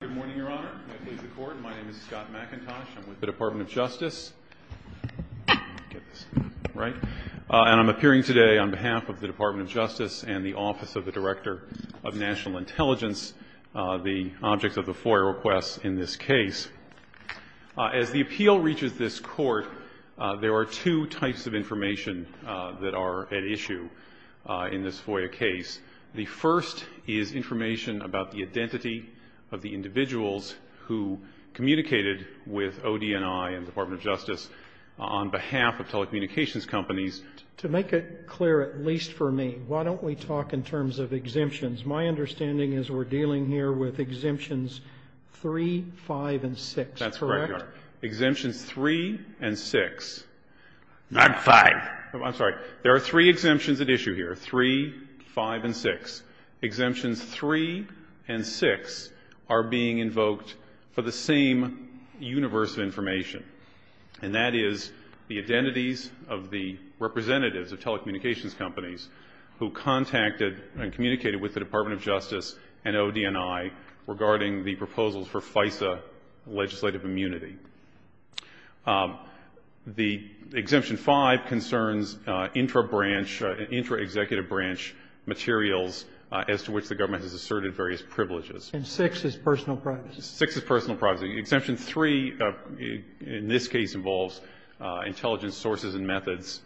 Good morning, Your Honor. My name is Scott McIntosh. I'm with the Department of Justice. And I'm appearing today on behalf of the Department of Justice and the Office of the Director of National Intelligence, the object of the FOIA request in this case. As the appeal reaches this court, there are two types of information that are at issue in this FOIA case. The first is information about the identity of the individuals who communicated with ODNI and the Department of Justice on behalf of telecommunications companies. To make it clear, at least for me, why don't we talk in terms of exemptions? My understanding is we're dealing here with exemptions 3, 5, and 6, correct? That's correct, Your Honor. Exemptions 3 and 6. Not 5. I'm sorry. There are three exemptions at issue here, 3, 5, and 6. Exemptions 3 and 6 are being invoked for the same universe of information, and that is the identities of the representatives of telecommunications companies who contacted and communicated with the Department of Justice and ODNI regarding the proposals for FISA legislative immunity. The exemption 5 concerns intra-branch, intra-executive branch materials as to which the government has asserted various privileges. And 6 is personal privacy. 6 is personal privacy. Exemption 3, in this case, involves intelligence sources and methods,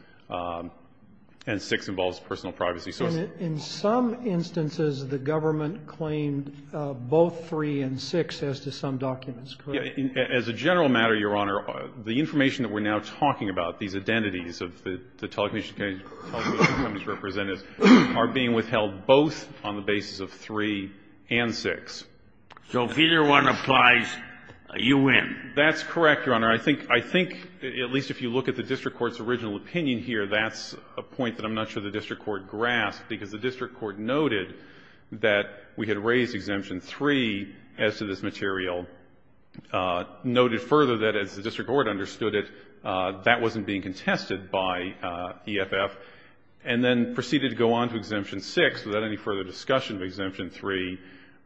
and 6 involves personal privacy. So in some instances, the government claimed both 3 and 6 as to some documents, correct? As a general matter, Your Honor, the information that we're now talking about, these identities of the telecommunications companies' representatives, are being withheld both on the basis of 3 and 6. So if either one applies, you win. That's correct, Your Honor. I think, at least if you look at the district court's original opinion here, that's a point that I'm not sure the district court grasped, because the district court noted that we had raised Exemption 3 as to this material, noted further that, as the district court understood it, that wasn't being contested by EFF, and then proceeded to go on to Exemption 6 without any further discussion of Exemption 3,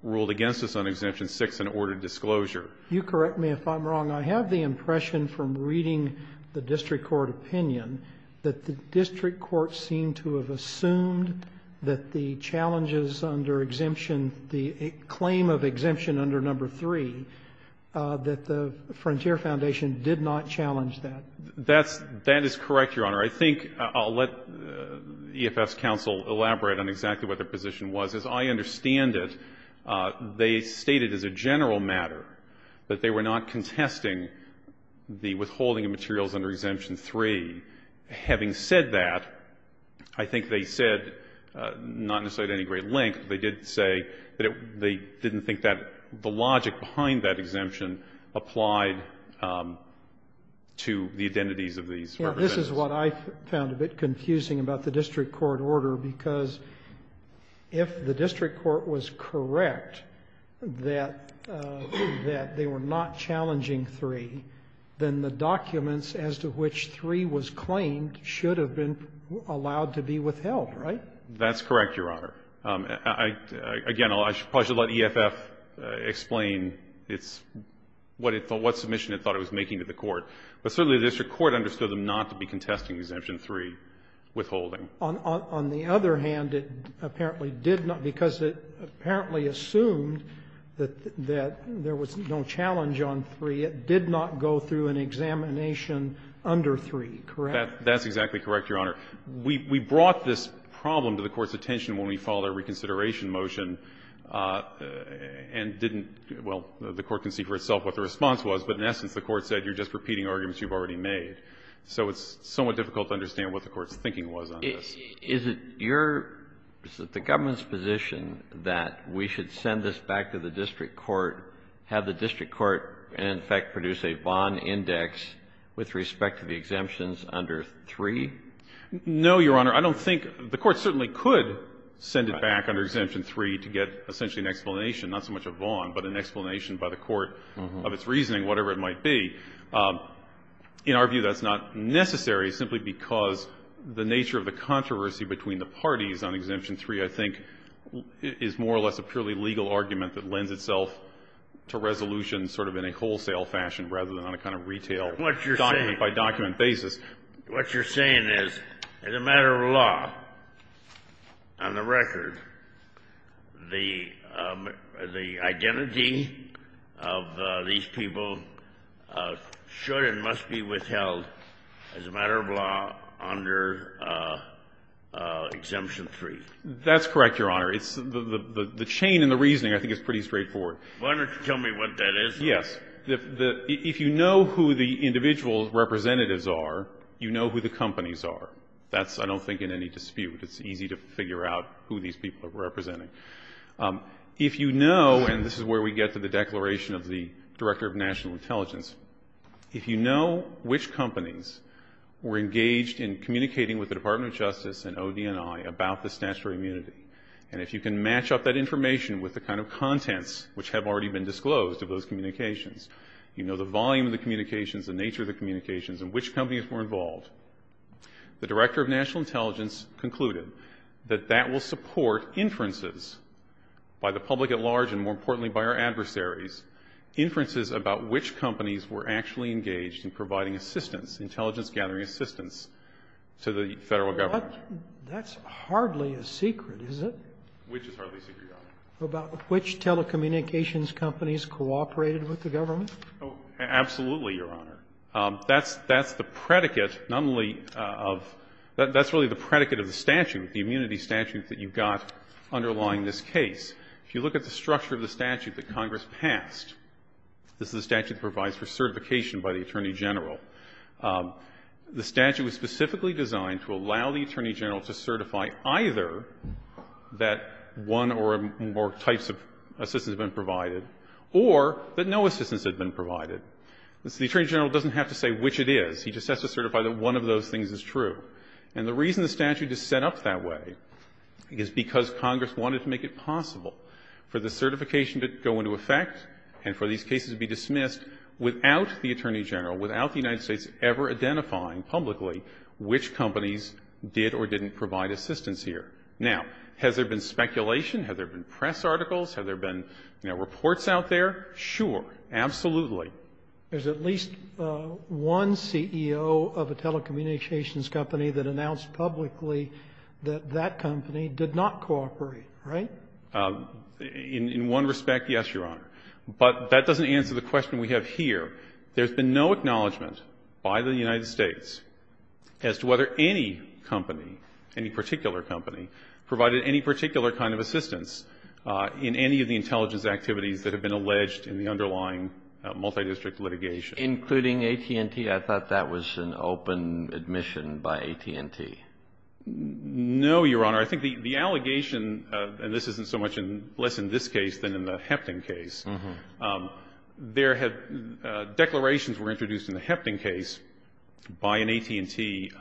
ruled against us on Exemption 6, and ordered disclosure. You correct me if I'm wrong. I have the impression from reading the district court opinion that the district court seemed to have assumed that the challenges under exemption, the claim of exemption under Number 3, that the Frontier Foundation did not challenge that. That's — that is correct, Your Honor. I think I'll let EFF's counsel elaborate on exactly what their position was. As I understand it, they stated as a general matter that they were not contesting the withholding of materials under Exemption 3. Having said that, I think they said, not necessarily at any great length, they did say that they didn't think that the logic behind that exemption applied to the identities of these representatives. This is what I found a bit confusing about the district court order, because if the district court was correct that they were not challenging 3, then the documents as to which 3 was claimed should have been allowed to be withheld, right? That's correct, Your Honor. Again, I probably should let EFF explain its — what submission it thought it was making to the court. But certainly, the district court understood them not to be contesting Exemption 3 withholding. On the other hand, it apparently did not, because it apparently assumed that there was no challenge on 3. It did not go through an examination under 3, correct? That's exactly correct, Your Honor. We brought this problem to the Court's attention when we followed our reconsideration motion and didn't — well, the Court can see for itself what the response was, but in essence, the Court said you're just repeating arguments you've already made. So it's somewhat difficult to understand what the Court's thinking was on this. Is it your — is it the government's position that we should send this back to the district court and, in effect, produce a Vaughan index with respect to the exemptions under 3? No, Your Honor. I don't think — the Court certainly could send it back under Exemption 3 to get essentially an explanation, not so much a Vaughan, but an explanation by the Court of its reasoning, whatever it might be. In our view, that's not necessary, simply because the nature of the controversy between the parties on Exemption 3, I think, is more or less a purely legal argument that lends itself to resolution sort of in a wholesale fashion rather than on a kind of retail, document-by-document basis. What you're saying is, as a matter of law, on the record, the identity of these people should and must be withheld as a matter of law under Exemption 3. That's correct, Your Honor. The chain in the reasoning, I think, is pretty straightforward. Why don't you tell me what that is? Yes. If you know who the individual representatives are, you know who the companies are. That's, I don't think, in any dispute. It's easy to figure out who these people are representing. If you know — and this is where we get to the declaration of the Director of National Intelligence — if you know which companies were engaged in communicating with the Federal Government, if you can match up that information with the kind of contents which have already been disclosed of those communications, you know the volume of the communications, the nature of the communications, and which companies were involved, the Director of National Intelligence concluded that that will support inferences by the public at large and, more importantly, by our adversaries, inferences about which companies were actually engaged in providing assistance, intelligence-gathering assistance, to the Federal Government. But that's hardly a secret, is it? Which is hardly a secret, Your Honor? About which telecommunications companies cooperated with the Government? Oh, absolutely, Your Honor. That's the predicate not only of — that's really the predicate of the statute, the immunity statute that you've got underlying this case. If you look at the structure of the statute that Congress passed — this is the statute that provides for certification by the Attorney General — the statute was specifically designed to allow the Attorney General to certify either that one or more types of assistance had been provided or that no assistance had been provided. The Attorney General doesn't have to say which it is. He just has to certify that one of those things is true. And the reason the statute is set up that way is because Congress wanted to make it possible for the certification to go into effect and for these cases to be dismissed without the Attorney General, without the United States ever identifying publicly which companies did or didn't provide assistance here. Now, has there been speculation? Have there been press articles? Have there been, you know, reports out there? Sure. Absolutely. There's at least one CEO of a telecommunications company that announced publicly that that company did not cooperate, right? In one respect, yes, Your Honor. But that doesn't answer the question we have here. There's been no acknowledgment by the United States as to whether any company, any particular company, provided any particular kind of assistance in any of the intelligence activities that have been alleged in the underlying multidistrict litigation. Including AT&T? I thought that was an open admission by AT&T. No, Your Honor. I think the allegation, and this isn't so much less in this case than in the Hefton case, declarations were introduced in the Hefton case by an AT&T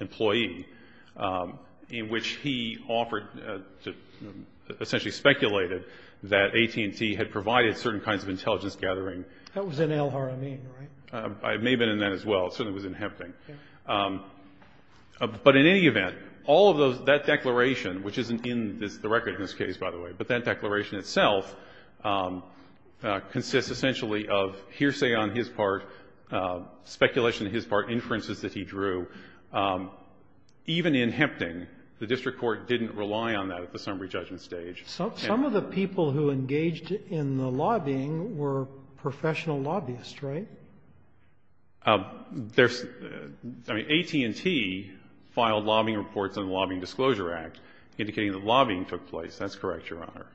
employee in which he offered to essentially speculate that AT&T had provided certain kinds of intelligence gathering. That was in El Haramin, right? It may have been in that as well. It certainly was in Hefton. But in any event, all of those, that declaration, which isn't in the record in this case, by the way, but that declaration itself consists essentially of hearsay on his part, speculation on his part, inferences that he drew. Even in Hempting, the district court didn't rely on that at the summary judgment stage. Some of the people who engaged in the lobbying were professional lobbyists, right? AT&T filed lobbying reports in the Lobbying Disclosure Act, indicating that lobbying took place. That's correct, Your Honor.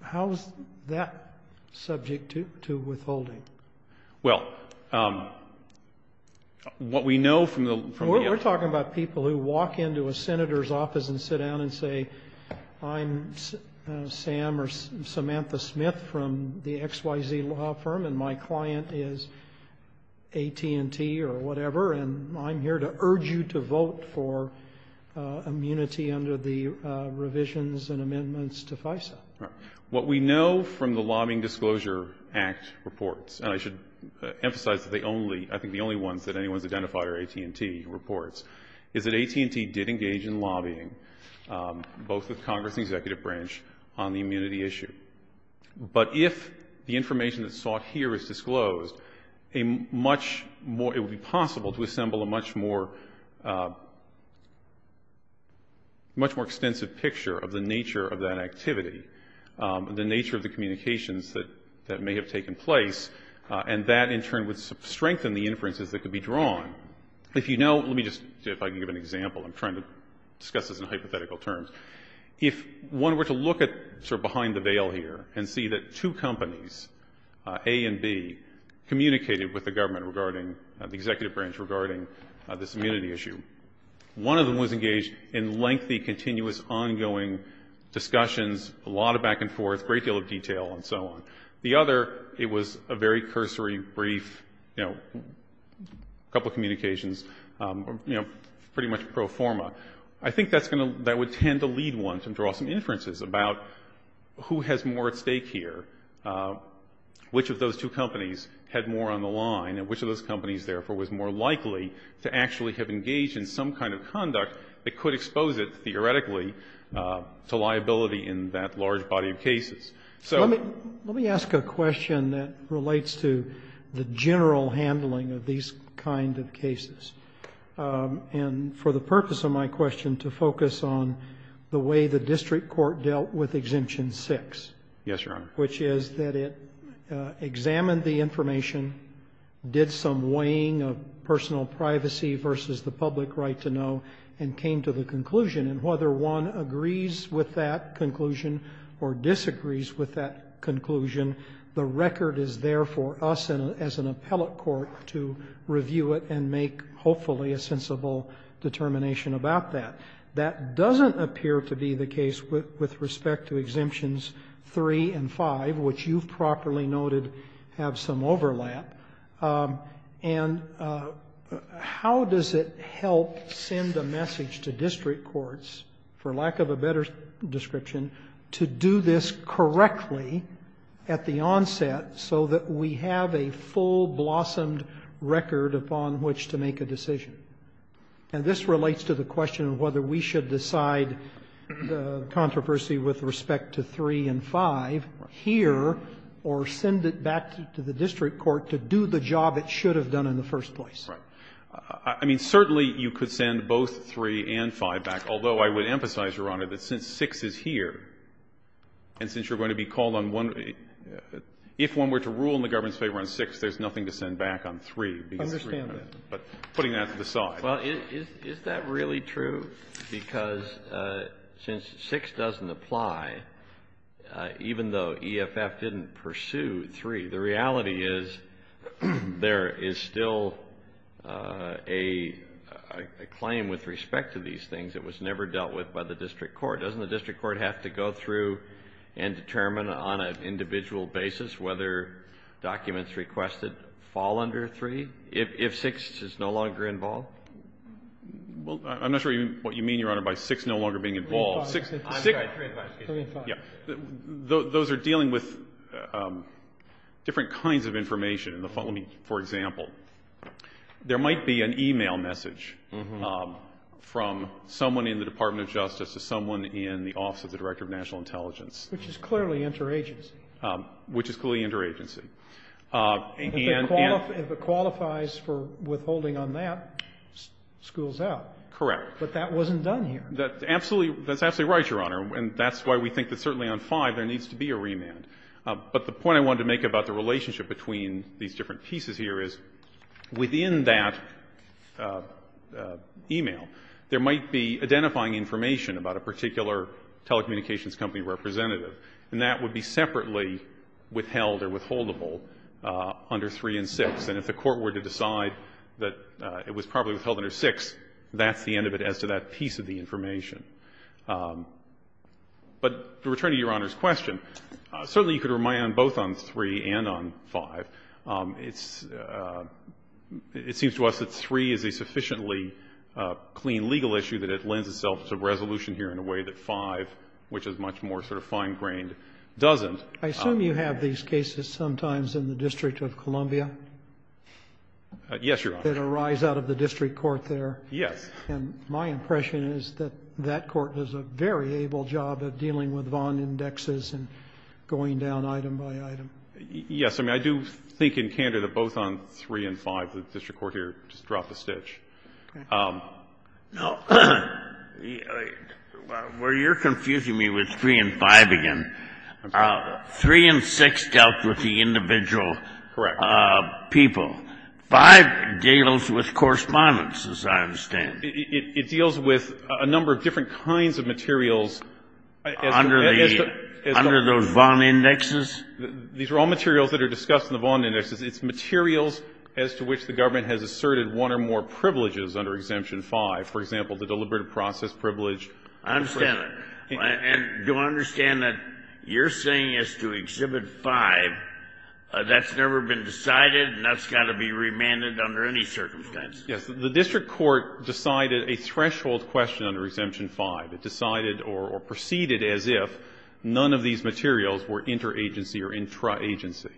How is that subject to withholding? Well, what we know from the… We're talking about people who walk into a senator's office and sit down and say, I'm Sam or Samantha Smith from the XYZ law firm, and my client is AT&T or whatever, and I'm here to urge you to vote for immunity under the revisions and amendments to FISA. What we know from the Lobbying Disclosure Act reports, and I should emphasize that I think the only ones that anyone's identified are AT&T reports, is that AT&T did engage in lobbying, both with Congress and the Executive Branch, on the immunity issue. But if the information that's sought here is disclosed, it would be possible to assemble a much more extensive picture of the nature of that activity, the nature of the communications that may have taken place, If you know, let me just, if I can give an example, I'm trying to discuss this in hypothetical terms. If one were to look at sort of behind the veil here and see that two companies, A and B, communicated with the government regarding the Executive Branch, regarding this immunity issue. One of them was engaged in lengthy, continuous, ongoing discussions, a lot of back and forth, great deal of detail and so on. The other, it was a very cursory, brief, you know, a couple of communications, you know, pretty much pro forma. I think that's going to, that would tend to lead one to draw some inferences about who has more at stake here, which of those two companies had more on the line, and which of those companies, therefore, was more likely to actually have engaged in some kind of conduct to liability in that large body of cases. So... Let me ask a question that relates to the general handling of these kind of cases. And for the purpose of my question, to focus on the way the district court dealt with Exemption 6. Yes, Your Honor. Which is that it examined the information, did some weighing of personal privacy versus the public right to know, and came to the conclusion, and whether one agrees with that conclusion or disagrees with that conclusion, the record is there for us as an appellate court to review it and make, hopefully, a sensible determination about that. That doesn't appear to be the case with respect to Exemptions 3 and 5, which you've properly noted have some overlap. And how does it help send a message to district courts, for lack of a better description, to do this correctly at the onset so that we have a full blossomed record upon which to make a decision? And this relates to the question of whether we should decide the controversy with respect to 3 and 5 here or send it back to the district court to do the job it should have done in the first place. I mean, certainly you could send both 3 and 5 back, although I would emphasize, Your Honor, that since 6 is here, and since you're going to be called on one... If one were to rule in the government's favor on 6, there's nothing to send back on 3. Understand that. But putting that to the side. Well, is that really true? Because since 6 doesn't apply, even though EFF didn't pursue 3, the reality is there is still a claim with respect to these things that was never dealt with by the district court. Doesn't the district court have to go through and determine on an individual basis whether documents requested fall under 3 if 6 is no longer involved? Well, I'm not sure what you mean, Your Honor, by 6 no longer being involved. I'm sorry, 3 and 5. Those are dealing with different kinds of information. For example, there might be an e-mail message from someone in the Department of Justice to someone in the office of the Director of National Intelligence. Which is clearly interagency. Which is clearly interagency. And... If it qualifies for withholding on that, schools out. Correct. But that wasn't done here. That's absolutely right, Your Honor, and that's why we think that certainly on 5 there needs to be a remand. But the point I wanted to make about the relationship between these different pieces here is within that e-mail there might be identifying information about a particular telecommunications company representative and that would be separately withheld or withholdable under 3 and 6. And if the court were to decide that it was probably withheld under 6, that's the end of it as to that piece of the information. But to return to Your Honor's question, certainly you could remand both on 3 and on 5. It's... It seems to us that 3 is a sufficiently clean legal issue that it lends itself to resolution here in a way that 5, which is much more sort of fine-grained, doesn't. I assume you have these cases sometimes in the District of Columbia? Yes, Your Honor. That arise out of the district court there. Yes. And my impression is that that court does a very able job of dealing with Vaughn indexes and going down item by item. Yes. I mean, I do think in Canada both on 3 and 5 the district court here just dropped a stitch. Okay. Now, where you're confusing me with 3 and 5 again, 3 and 6 dealt with the individual... Correct. ...people. 5 deals with correspondence, as I understand. It deals with a number of different kinds of materials... Under the... ...as to... Under those Vaughn indexes? These are all materials that are discussed in the Vaughn indexes. It's materials as to which the government has asserted one or more privileges under Exemption 5. For example, the deliberative process privilege... I understand that. And do I understand that you're saying as to Exhibit 5, that's never been decided and that's got to be remanded under any circumstance? Yes. The district court decided a threshold question under Exemption 5. It decided or proceeded as if none of these materials were interagency or intra-agency.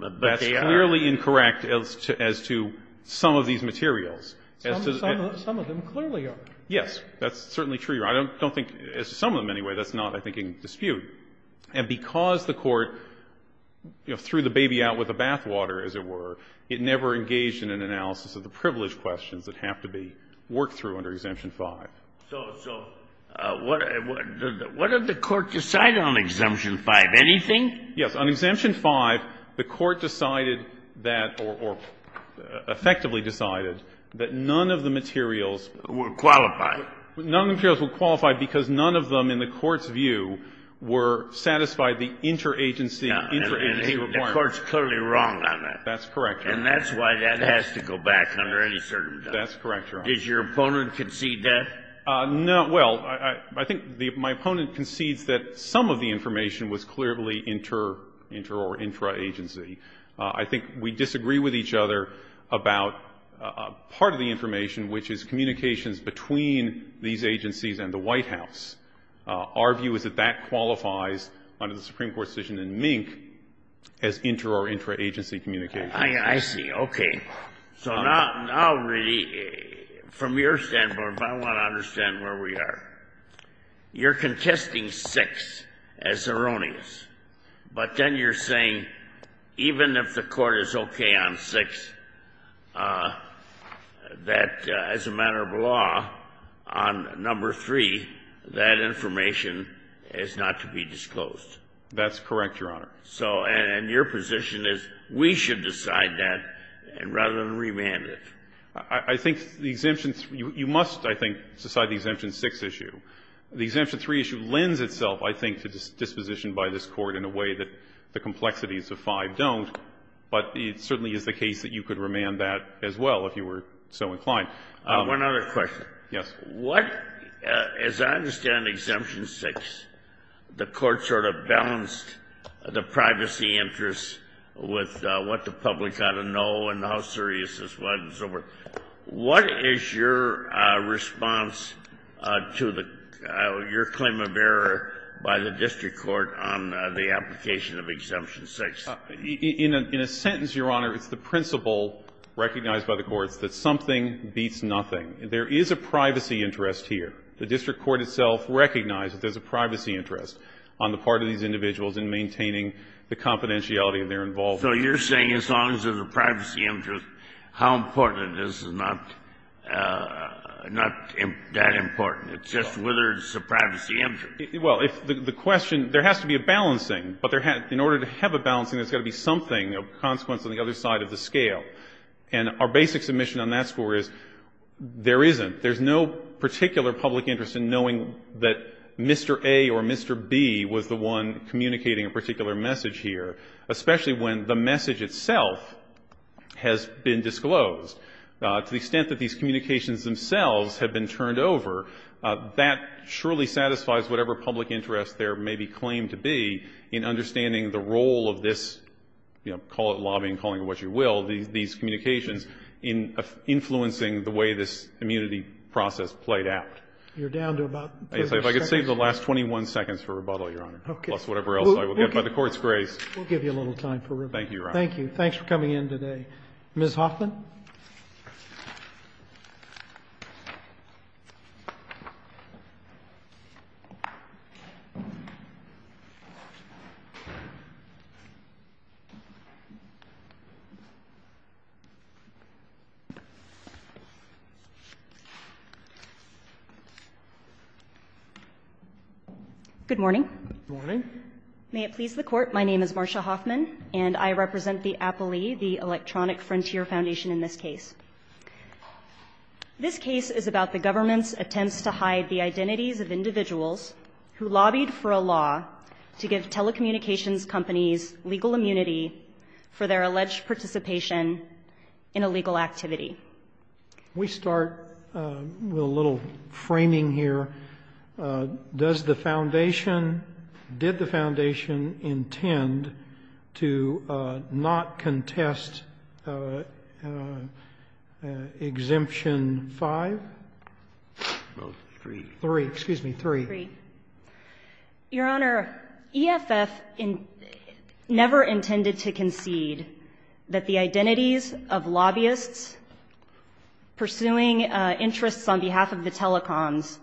But they are. That's clearly incorrect as to some of these materials. Some of them clearly are. Yes. That's certainly true. I don't think, as to some of them anyway, that's not, I think, in dispute. And because the court, you know, threw the baby out with the bathwater, as it were, it never engaged in an analysis of the privilege questions that have to be worked through under Exemption 5. So what did the court decide on Exemption 5? Anything? Yes. On Exemption 5, the court decided that or effectively decided that none of the materials were qualified. None of the materials were qualified because none of them, in the court's view, were satisfied the interagency, intra-agency requirement. And the court's clearly wrong on that. That's correct, Your Honor. And that's why that has to go back under any circumstance. That's correct, Your Honor. Does your opponent concede that? No. Well, I think my opponent concedes that some of the information was clearly inter- or intra-agency. I think we disagree with each other about part of the information, which is communications between these agencies and the White House. Our view is that that qualifies, under the Supreme Court decision in Mink, as inter- or intra-agency communication. I see. Okay. So now, really, from your standpoint, I want to understand where we are. You're contesting 6 as erroneous. But then you're saying, even if the court is okay on 6, that as a matter of law, on number 3, that information is not to be disclosed. That's correct, Your Honor. So, and your position is, we should decide that rather than remand it. I think the exemptions, you must, I think, decide the Exemption 6 issue. The Exemption 3 issue lends itself, I think, to disposition by this Court in a way that the complexities of 5 don't. But it certainly is the case that you could remand that as well, if you were so inclined. One other question. Yes. What, as I understand Exemption 6, the Court sort of balanced the privacy interest with what the public ought to know and how serious this was and so forth. What is your response to your claim of error by the District Court on the application of Exemption 6? In a sentence, Your Honor, it's the principle recognized by the courts that something beats nothing. There is a privacy interest here. The District Court itself recognizes there's a privacy interest on the part of these individuals in maintaining the confidentiality of their involvement. So you're saying as long as there's a privacy interest, how important it is is not that important. It's just whether there's a privacy interest. Well, the question, there has to be a balancing. But in order to have a balancing, there's got to be something of consequence on the other side of the scale. And our basic submission on that score is there isn't. There's no particular public interest in knowing that Mr. A or Mr. B was the one communicating a particular message here, especially when the message itself has been disclosed. To the extent that these communications themselves have been turned over, that surely satisfies whatever public interest there may be claimed to be in understanding the role of this, you know, call it lobbying, calling it what you will, these communications in influencing the way this immunity process played out. You're down to about 20 seconds. If I could save the last 21 seconds for rebuttal, Your Honor, plus whatever else I will get by the Court's grace. We'll give you a little time for rebuttal. Thank you, Your Honor. Thank you. Thanks for coming in today. Ms. Hoffman. Good morning. Good morning. May it please the Court, my name is Marsha Hoffman and I represent the Appalee, the Electronic Frontier Foundation in this case. This case is about the government's attempts to hide the identities of individuals who lobbied for a law to give telecommunications companies legal immunity for their alleged participation in a legal activity. We start with a little framing here. Does the foundation... Did the foundation intend to not contest Exemption 5? Three. Three, excuse me, three. Three. Your Honor, EFF never intended to concede that the identities of lobbyists pursuing interests on behalf of the telecoms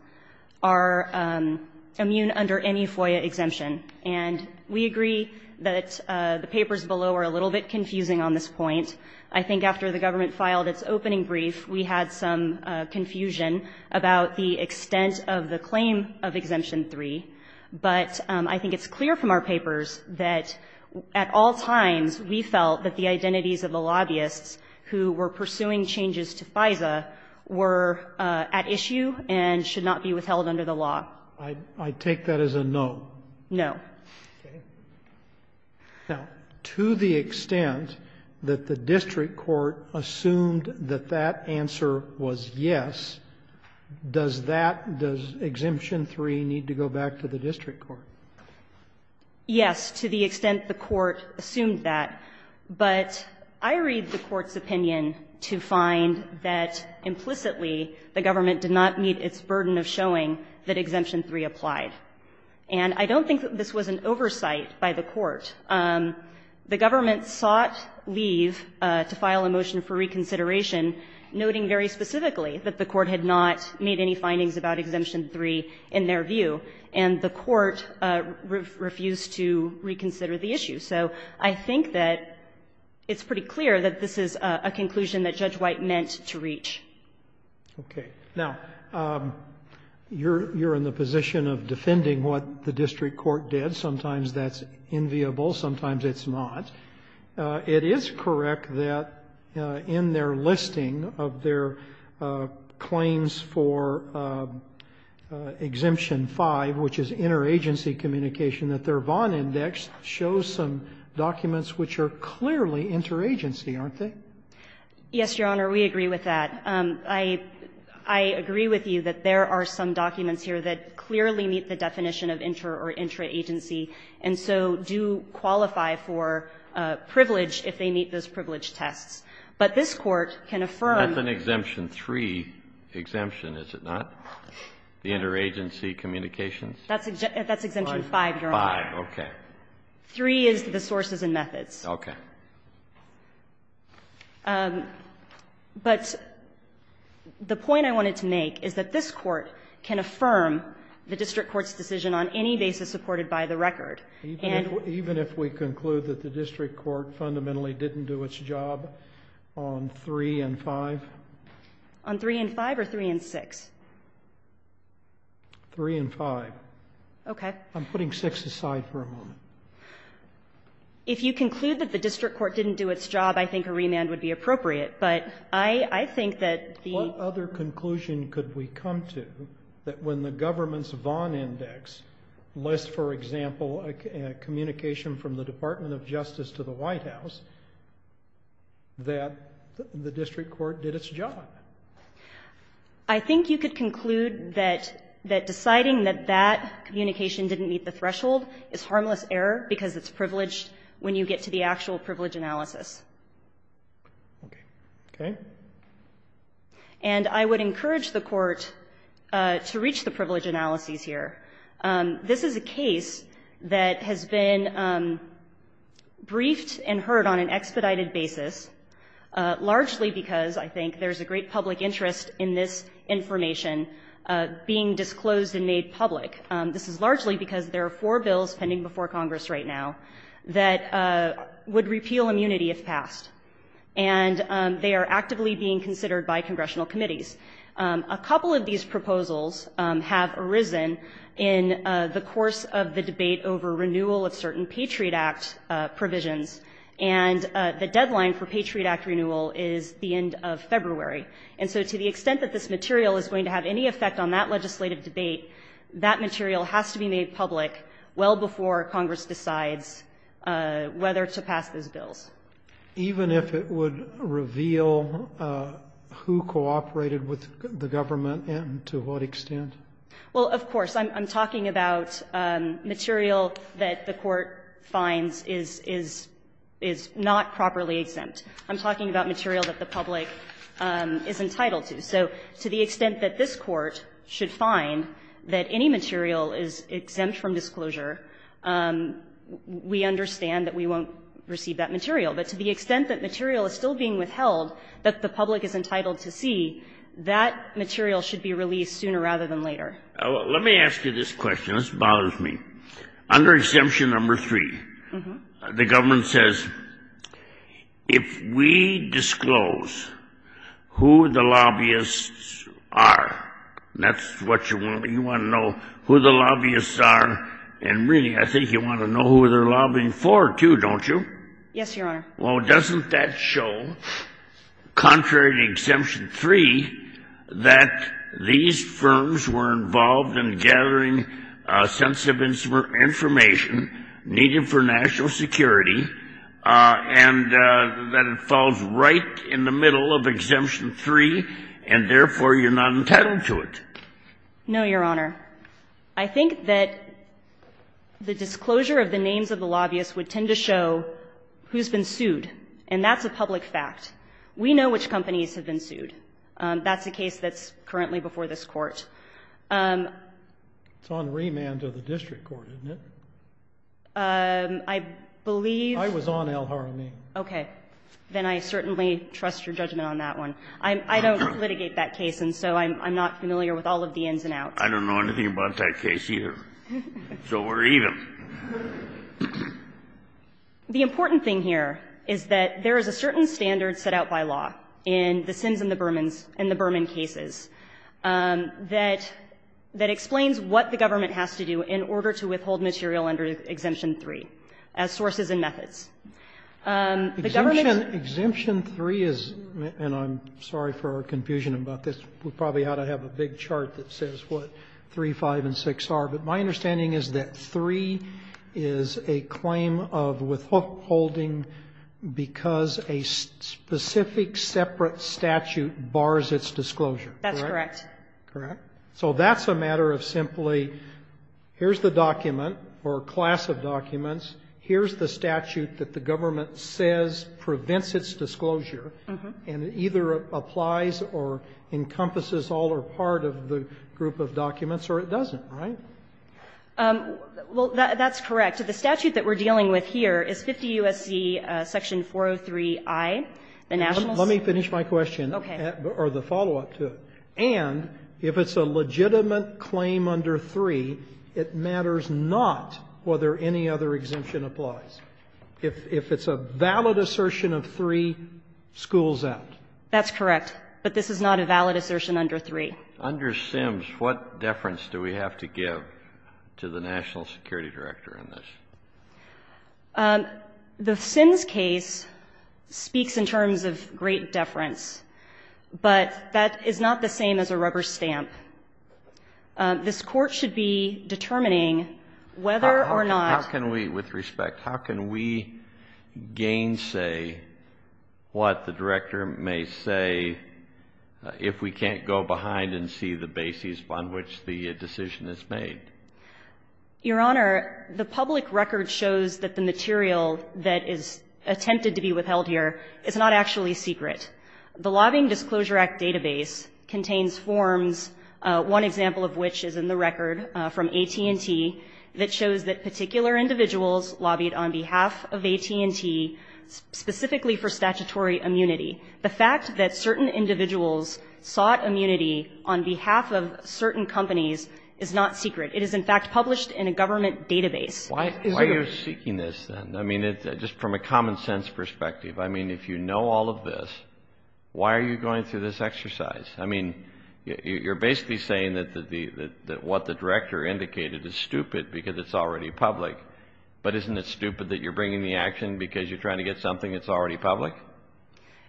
are immune under any FOIA exemption. And we agree that the papers below are a little bit confusing on this point. I think after the government filed its opening brief, we had some confusion about the extent of the claim of Exemption 3. But I think it's clear from our papers that at all times, we felt that the identities of the lobbyists who were pursuing changes to FISA were at issue and should not be withheld under the law. I take that as a no. No. Okay. Now, to the extent that the district court assumed that that answer was yes, does that, does Exemption 3 need to go back to the district court? Yes, to the extent the court assumed that. But I read the court's opinion to find that implicitly the government did not meet its burden of showing that Exemption 3 applied. And I don't think that this was an oversight by the court. The government sought leave to file a motion for reconsideration, noting very specifically that the court had not made any findings about Exemption 3 in their view. And the court refused to reconsider the issue. So I think that it's pretty clear that this is a conclusion that Judge White meant to reach. Okay. Now, you're in the position of defending what the district court did. Sometimes that's enviable, sometimes it's not. It is correct that in their listing of their claims for Exemption 5, which is interagency communication, that their Vaughn Index shows some documents which are clearly interagency, aren't they? Yes, Your Honor, we agree with that. I agree with you that there are some documents here that clearly meet the definition of inter- or intra-agency, and so do qualify for privilege if they meet those privilege tests. But this court can affirm... That's an Exemption 3 exemption, is it not? The interagency communications? That's Exemption 5, Your Honor. Five, okay. Three is the sources and methods. Okay. But the point I wanted to make is that this court can affirm the district court's decision on any basis supported by the record. Even if we conclude that the district court fundamentally didn't do its job on 3 and 5? On 3 and 5 or 3 and 6? 3 and 5. Okay. I'm putting 6 aside for a moment. If you conclude that the district court didn't do its job, I think a remand would be appropriate, but I think that the... What other conclusion could we come to that when the government's Vaughn Index lists, for example, a communication from the Department of Justice to the White House that the district court did its job? I think you could conclude that deciding that that communication didn't meet the threshold is harmless error because it's privileged when you get to the actual privilege analysis. Okay. And I would encourage the court to reach the privilege analyses here. This is a case that has been briefed and heard on an expedited basis largely because, I think, there's a great public interest in this information being disclosed and made public. This is largely because there are four bills pending before Congress right now that would repeal immunity if passed and they are actively being considered by congressional committees. A couple of these proposals have arisen in the course of the debate over renewal of certain Patriot Act provisions and the deadline for Patriot Act renewal is the end of February and so to the extent that this material is going to have any effect on that legislative debate that material has to be made public well before Congress decides whether to pass those bills. Even if it would reveal who cooperated with the government and to what extent? Well, of course. I'm talking about material that the court finds is not properly exempt. I'm talking about material that the public is entitled to. So to the extent that this court should find that any material is exempt from disclosure we understand that we won't receive that material but to the extent that material is still being withheld that the public is entitled to see, that material should be released sooner rather than later. Let me ask you this question. This bothers me. Under Exemption No. 3 the government says if we disclose who the lobbyists are you want to know who the lobbyists are and really I think you want to know who they're lobbying for too, don't you? Yes, Your Honor. Well, doesn't that show contrary to Exemption No. 3 that these firms were involved in gathering sensitive information needed for national security and that it falls right in the middle of Exemption No. 3 and therefore you're not entitled to it? No, Your Honor. I think that the disclosure of the names of the lobbyists would tend to show who's been sued and that's a public fact. We know which companies have been sued. That's the case that's currently before this Court. It's on remand to the district court, isn't it? I believe I was on El Jaramillo. Then I certainly trust your judgment on that one. I don't litigate that case and so I'm not familiar with all of the ins and outs. I don't know anything about that case either. So we're even. The important thing here is that there is a certain standard set out by law in the Sims and the Bermans and the Berman cases that explains what the government has to do in order to withhold material under Exemption 3 as sources and methods. The government Exemption 3 is and I'm sorry for our confusion about this we probably ought to have a big chart that says what 3, 5 and 6 are, but my understanding is that 3 is a claim of withholding because a specific separate statute bars its disclosure. That's correct. Correct. So that's a matter of simply here's the document or class of documents. Here's the statute that the government says prevents its disclosure and either applies or encompasses all or part of the group of documents or it doesn't, right? Well, that's correct. The statute that we're dealing with here is 50 U.S.C. Section 403I. Let me finish my question. Or the follow-up to it. And if it's a legitimate claim under 3 it matters not whether any other exemption applies. If it's a valid assertion of 3, schools out. That's correct. But this is not a valid assertion under 3. Under Sims, what deference do we have to give to the National Security Director in this? The Sims case speaks in terms of great deference but that is not the same as a rubber stamp. This Court should be determining whether or not... How can we, with respect, how can we gainsay what the Director may say if we can't go behind and see the basis on which the decision is made? Your Honor, the public record shows that the material that is attempted to be withheld here is not actually secret. The Lobbying Disclosure Act database contains forms, one example of which is in the record from AT&T, that shows that particular individuals lobbied on behalf of AT&T specifically for statutory immunity. The fact that certain individuals sought immunity on behalf of certain companies is not secret. It is in fact published in a government database. Why are you seeking this then? I mean, just from a common sense perspective, I mean, if you know all of this why are you going through this exercise? I mean, you're basically saying that what the Director indicated is stupid because it's already public but isn't it stupid that you're bringing the action because you're trying to get something that's already public?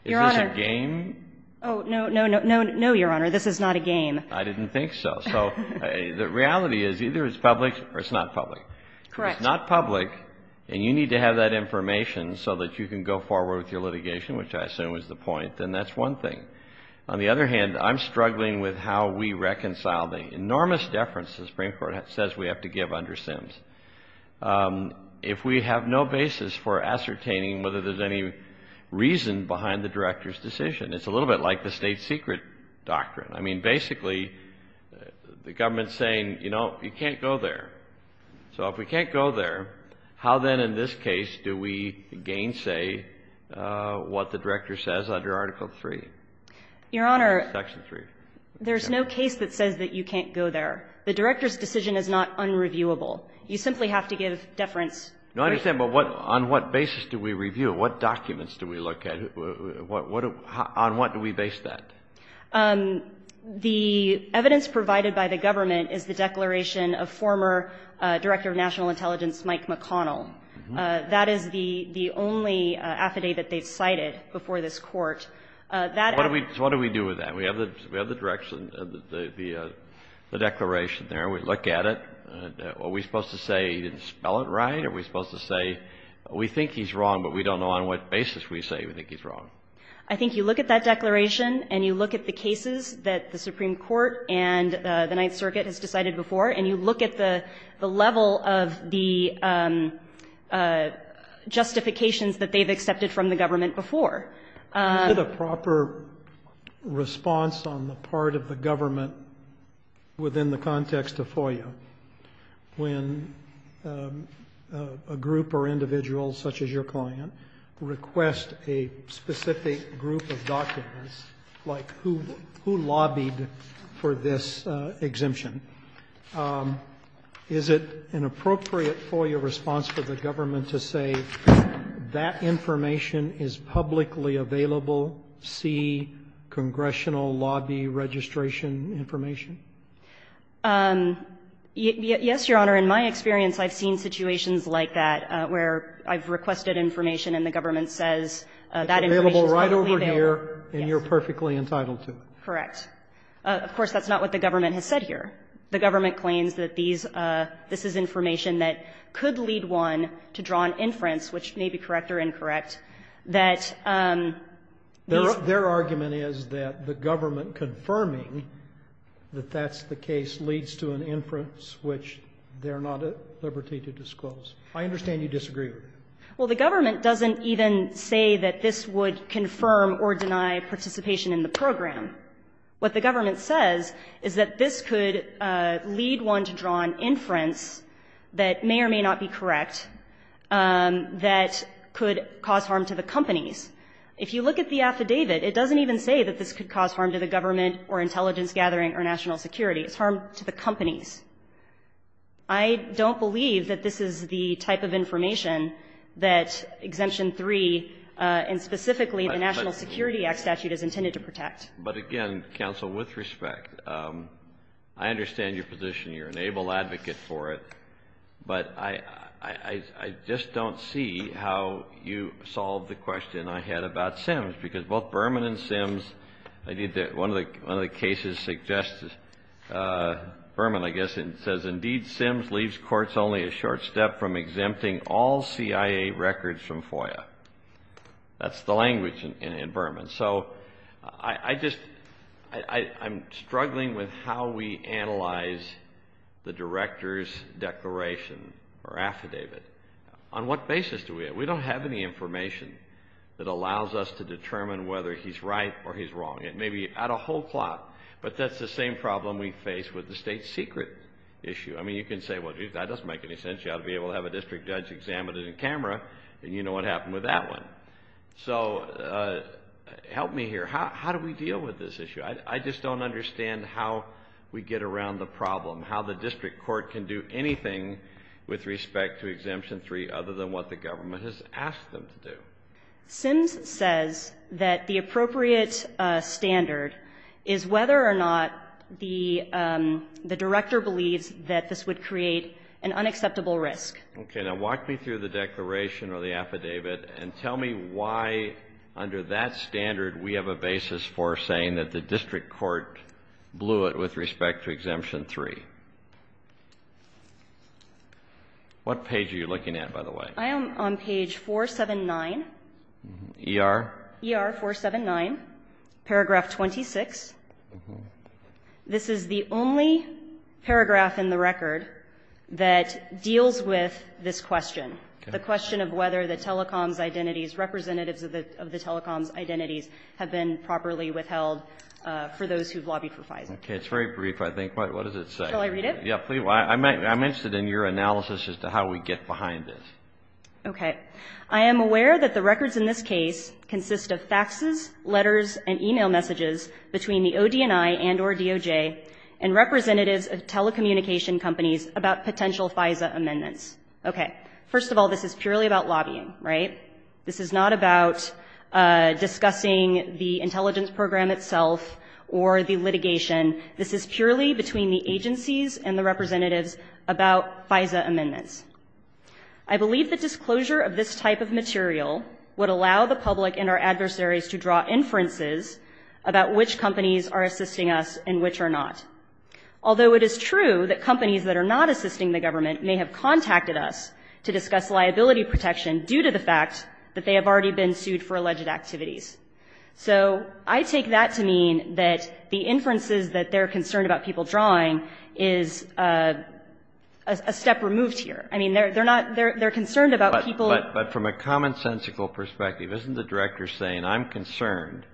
Your Honor... Is this a game? Oh, no, no, no. No, Your Honor. This is not a game. I didn't think so. So, the reality is either it's public or it's not public. It's not public and you need to have that information so that you can go forward with your litigation, which I assume is the point, and that's one thing. On the other hand, I'm struggling with how we reconcile the enormous deference the Supreme Court says we have to give under Sims if we have no basis for ascertaining whether there's any reason behind the Director's decision. It's a little bit like the state secret doctrine. I mean, basically the government's saying, you know, you can't go there. So, if we can't go there, how then in this case do we gainsay what the Director says under Article 3? Your Honor, there's no case that says that you can't go there. The Director's decision is not unreviewable. You simply have to give deference. No, I understand, but on what basis do we review? What documents do we look at? On what do we base that? The evidence provided by the government is the declaration of former Director of National Intelligence Mike McConnell. That is the only affidavit they've cited before this Court. What do we do with that? We have the declaration there. We look at it. Are we supposed to say he didn't spell it right? Are we supposed to say we think he's wrong, but we don't know on what basis we say we think he's wrong? I think you look at that declaration, and you look at the cases that the Supreme Court and the Ninth Circuit has decided before, and you look at the level of the justifications that they've accepted from the government before. Is there a proper response on the part of the government within the context of FOIA when a group or individual such as your client request a specific group of documents, like who lobbied for this exemption? Is it an appropriate FOIA response for the government to say that information is publicly available? See congressional lobby registration information? Yes, Your Honor. In my experience, I've seen situations like that, where I've requested information, and the government says that information is publicly available. It's available right over here, and you're perfectly entitled to it. Correct. Of course, that's not what the government has said here. The government claims that this is information that could lead one to draw an inference, which may be correct or incorrect, that Their argument is that the government confirming that that's the case leads to an inference which they're not at liberty to disclose. I understand you disagree with that. Well, the government doesn't even say that this would confirm or deny participation in the program. What the government says is that this could lead one to draw an inference that may or may not be correct that could cause harm to the companies. If you look at the affidavit, it doesn't even say that this could cause harm to the government or intelligence gathering or national security. It's harm to the companies. I don't believe that this is the type of information that Exemption 3 and specifically the National Security Act statute is intended to protect. But again, counsel, with respect, I understand your position. You're an able advocate for it. But I just don't see how you solve the question I had about Sims, because both Berman and Sims I think that one of the cases suggests Berman, I guess, says, Indeed, Sims leaves courts only a short step from exempting all C.I.A. records from FOIA. That's the language in Berman. So, I just I'm struggling with how we analyze the director's declaration or affidavit. On what basis do we? We don't have any information that allows us to determine whether he's right or he's wrong. It may be out of whole plot, but that's the same problem we face with the state secret issue. I mean, you can say, well, that doesn't make any sense. You ought to be able to have a district judge examine it in camera and you know what happened with that one. So, help me here. How do we deal with this issue? I just don't understand how we get around the problem. How the district court can do anything with respect to Exemption 3 other than what the government has asked them to do. Sims says that the appropriate standard is whether or not the director believes that this would create an unacceptable risk. Okay. Now, walk me through the declaration or the affidavit and tell me why under that standard we have a basis for saying that the district court blew it with respect to Exemption 3. What page are you looking at, by the way? I am on page 479. ER? ER 479, paragraph 26. This is the only paragraph in the record that deals with this question. The question of whether the telecoms identities, representatives of the telecoms identities have been properly withheld for those who have lobbied for FISA. It's very brief, I think. What does it say? Shall I read it? I'm interested in your analysis as to how we get behind it. Okay. I am aware that the records in this case consist of faxes, letters and email messages between the ODNI and or DOJ and representatives of telecommunication companies about potential FISA amendments. Okay. First of all, this is purely about lobbying, right? This is not about discussing the intelligence program itself or the litigation. This is purely between the agencies and the representatives about FISA amendments. I believe the disclosure of this type of material would allow the public and our adversaries to draw inferences about which companies are assisting us and which are not. Although it is true that companies that are not assisting the government may have contacted us to discuss liability protection due to the fact that they have already been sued for alleged activities. So, I take that to mean that the inferences that they're concerned about people drawing is a step removed here. I mean, they're not They're concerned about people But from a commonsensical perspective, isn't the Director saying, I'm concerned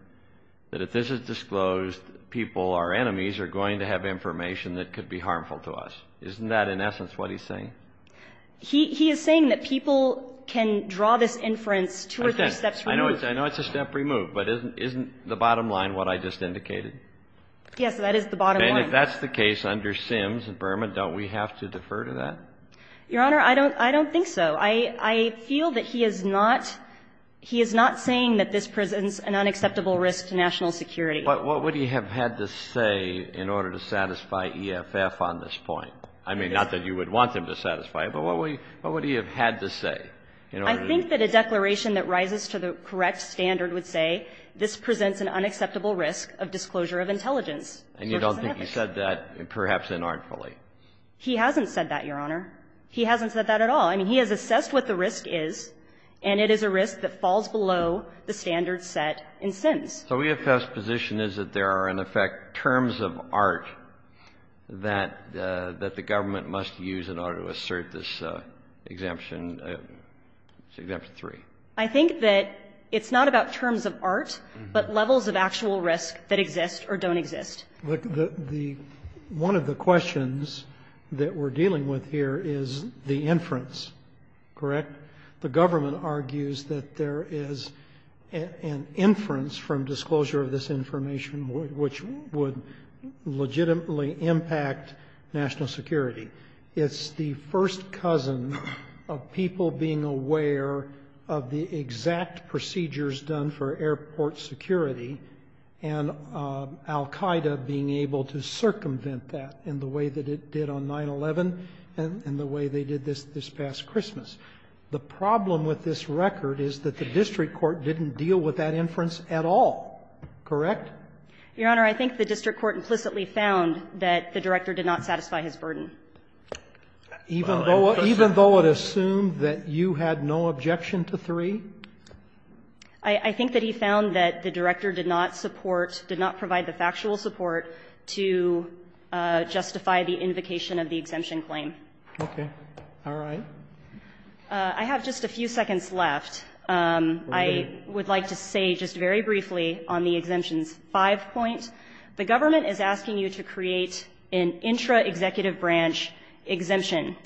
that if this is disclosed people, our enemies, are going to have information that could be harmful to us? Isn't that, in essence, what he's saying? He is saying that people can draw this inference two or three steps removed. I know it's a step removed but isn't the bottom line what I just indicated? Yes, that is the bottom line. And if that's the case under SIMS and Burma, don't we have to defer to that? Your Honor, I don't think so. I feel that he is not saying that this presents an unacceptable risk to national security. But what would he have had to say in order to satisfy EFF on this point? I mean, not that you would want him to satisfy it, but what would he have had to say? I think that a declaration that rises to the correct standard would say this presents an unacceptable risk of disclosure of intelligence. And you don't think he said that, perhaps inartfully? He hasn't said that, Your Honor. He hasn't said that at all. I mean, he has assessed what the risk is, and it is a risk that falls below the standard set in SIMS. So EFF's position is that there are, in effect, terms of art that the government must use in order to assert this exemption, Exemption 3. I think that it's not about terms of art, but levels of actual risk that exist or don't exist. One of the questions that we're dealing with here is the inference. Correct? The government argues that there is an inference from disclosure of this information which would legitimately impact national security. It's the first cousin of people being aware of the exact procedures done for airport security, and Al Qaeda being able to circumvent that in the way that it did on 9-11 and the way they did this this past Christmas. The problem with this record is that the district court didn't deal with that inference at all. Correct? Your Honor, I think the district court implicitly found that the director did not satisfy his burden. Even though it assumed that you had no objection to 3? I think that he found that the director did not support, did not provide the factual support to justify the invocation of the exemption claim. Okay. Alright. I have just a few seconds left. I would like to say just very briefly on the exemption's 5 point. The government is asking you to create an intra-executive branch exemption.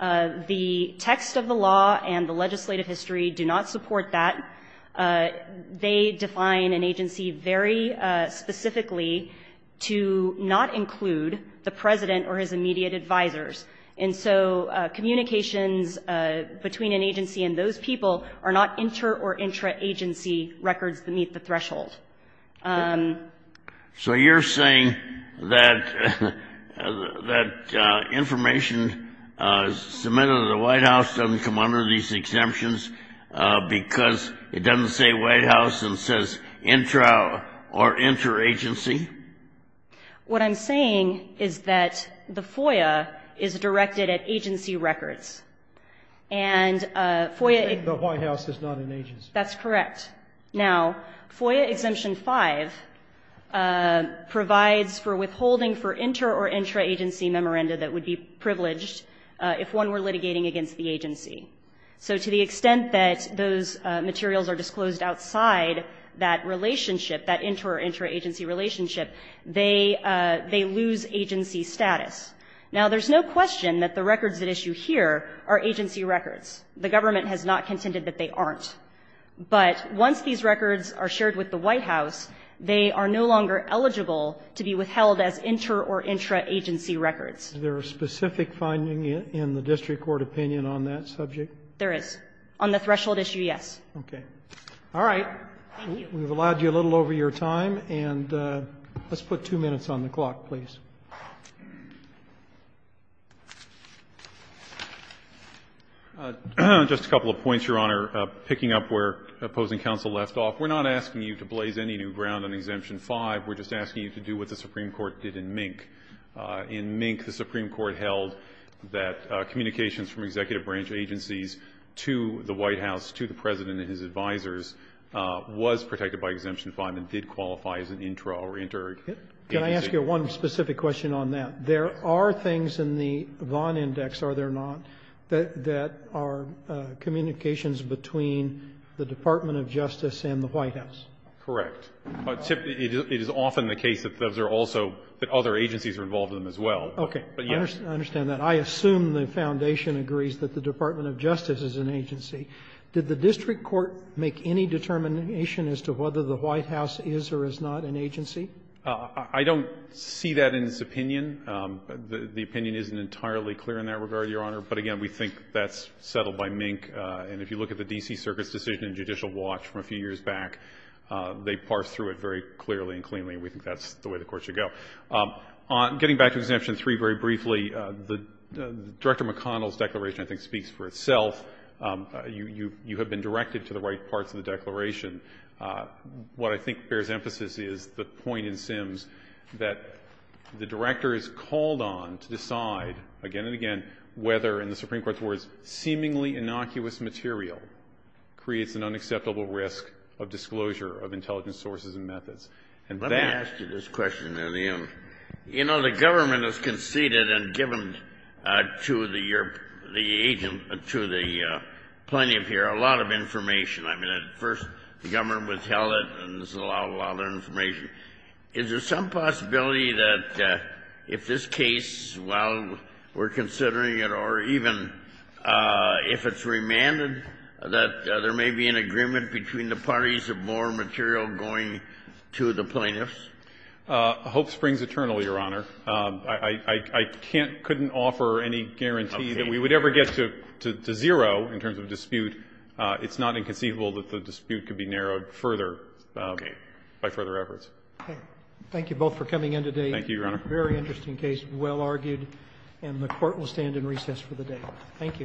The text of the law and the legislative history do not they define an agency very specifically to not include the president or his immediate advisers. And so communications between an agency and those people are not inter or intra agency records that meet the threshold. So you're saying that that information submitted to the White House doesn't come under these exemptions because it doesn't say White House and says intra or inter agency? What I'm saying is that the FOIA is directed at agency records. The White House is not an agency. That's correct. Now, FOIA exemption 5 provides for withholding for inter or intra agency memoranda that would be privileged if one were litigating against the president or his immediate advisers. if you submit that those materials are disclosed outside that relationship, that inter or intra agency relationship, they lose agency status. Now, there's no question that the records at issue here are agency records. The government has not contended that they aren't. But once these records are shared with the White House, they are no longer eligible to be withheld as inter or intra agency records. Is there a specific finding in the district court opinion on that subject? There is. On the threshold issue, yes. All right. We've allowed you a little over your time. Let's put two minutes on the clock, please. Just a couple of points, Your Honor. Picking up where opposing counsel left off, we're not asking you to blaze any new We're just asking you to do what the Supreme Court did in Mink. In Mink, the Supreme Court held that communications from executive branch agencies to the White House, to the president and his advisers was protected by Exemption 5 and did qualify as an intra or intra Can I ask you one specific question on that? There are things in the Vaughn Index, are there not, that are communications between the Department of Justice and the White House? Correct. It is often the case that those are also that other agencies are involved in them as well. Okay. I understand that. I assume the Foundation agrees that the Department of Justice is an agency. Did the district court make any determination as to whether the White House is or is not an agency? I don't see that in its opinion. The opinion isn't entirely clear in that regard, Your Honor, but again, we think that's settled by Mink and if you look at the D.C. Circuit's decision in Judicial Watch from a few years back, they parsed through it very clearly and cleanly and we think that's the way the Court should go. Getting back to Exemption 3 very briefly, Director McConnell's declaration, I think, speaks for itself. You have been directed to the right parts of the declaration. What I think bears emphasis is the point in Sims that the Director is called on to decide again and again whether, in the Supreme Court's words, seemingly innocuous material creates an unacceptable risk of disclosure of intelligence sources and methods. Let me ask you this question. You know, the government has conceded and given to the agent, to the plaintiff here, a lot of information. I mean, at first the government withheld it and this allowed a lot of information. Is there some possibility that if this case, while we're considering it, or even if it's remanded that there may be an agreement between the parties of more material going to the plaintiffs? Hope springs eternal, Your Honor. I couldn't offer any guarantee that we would ever get to zero in terms of dispute. It's not inconceivable that the dispute could be narrowed further by further efforts. Thank you both for coming in today. Thank you, Your Honor. Very interesting case, well argued, and the Court will stand in recess for the day. Thank you.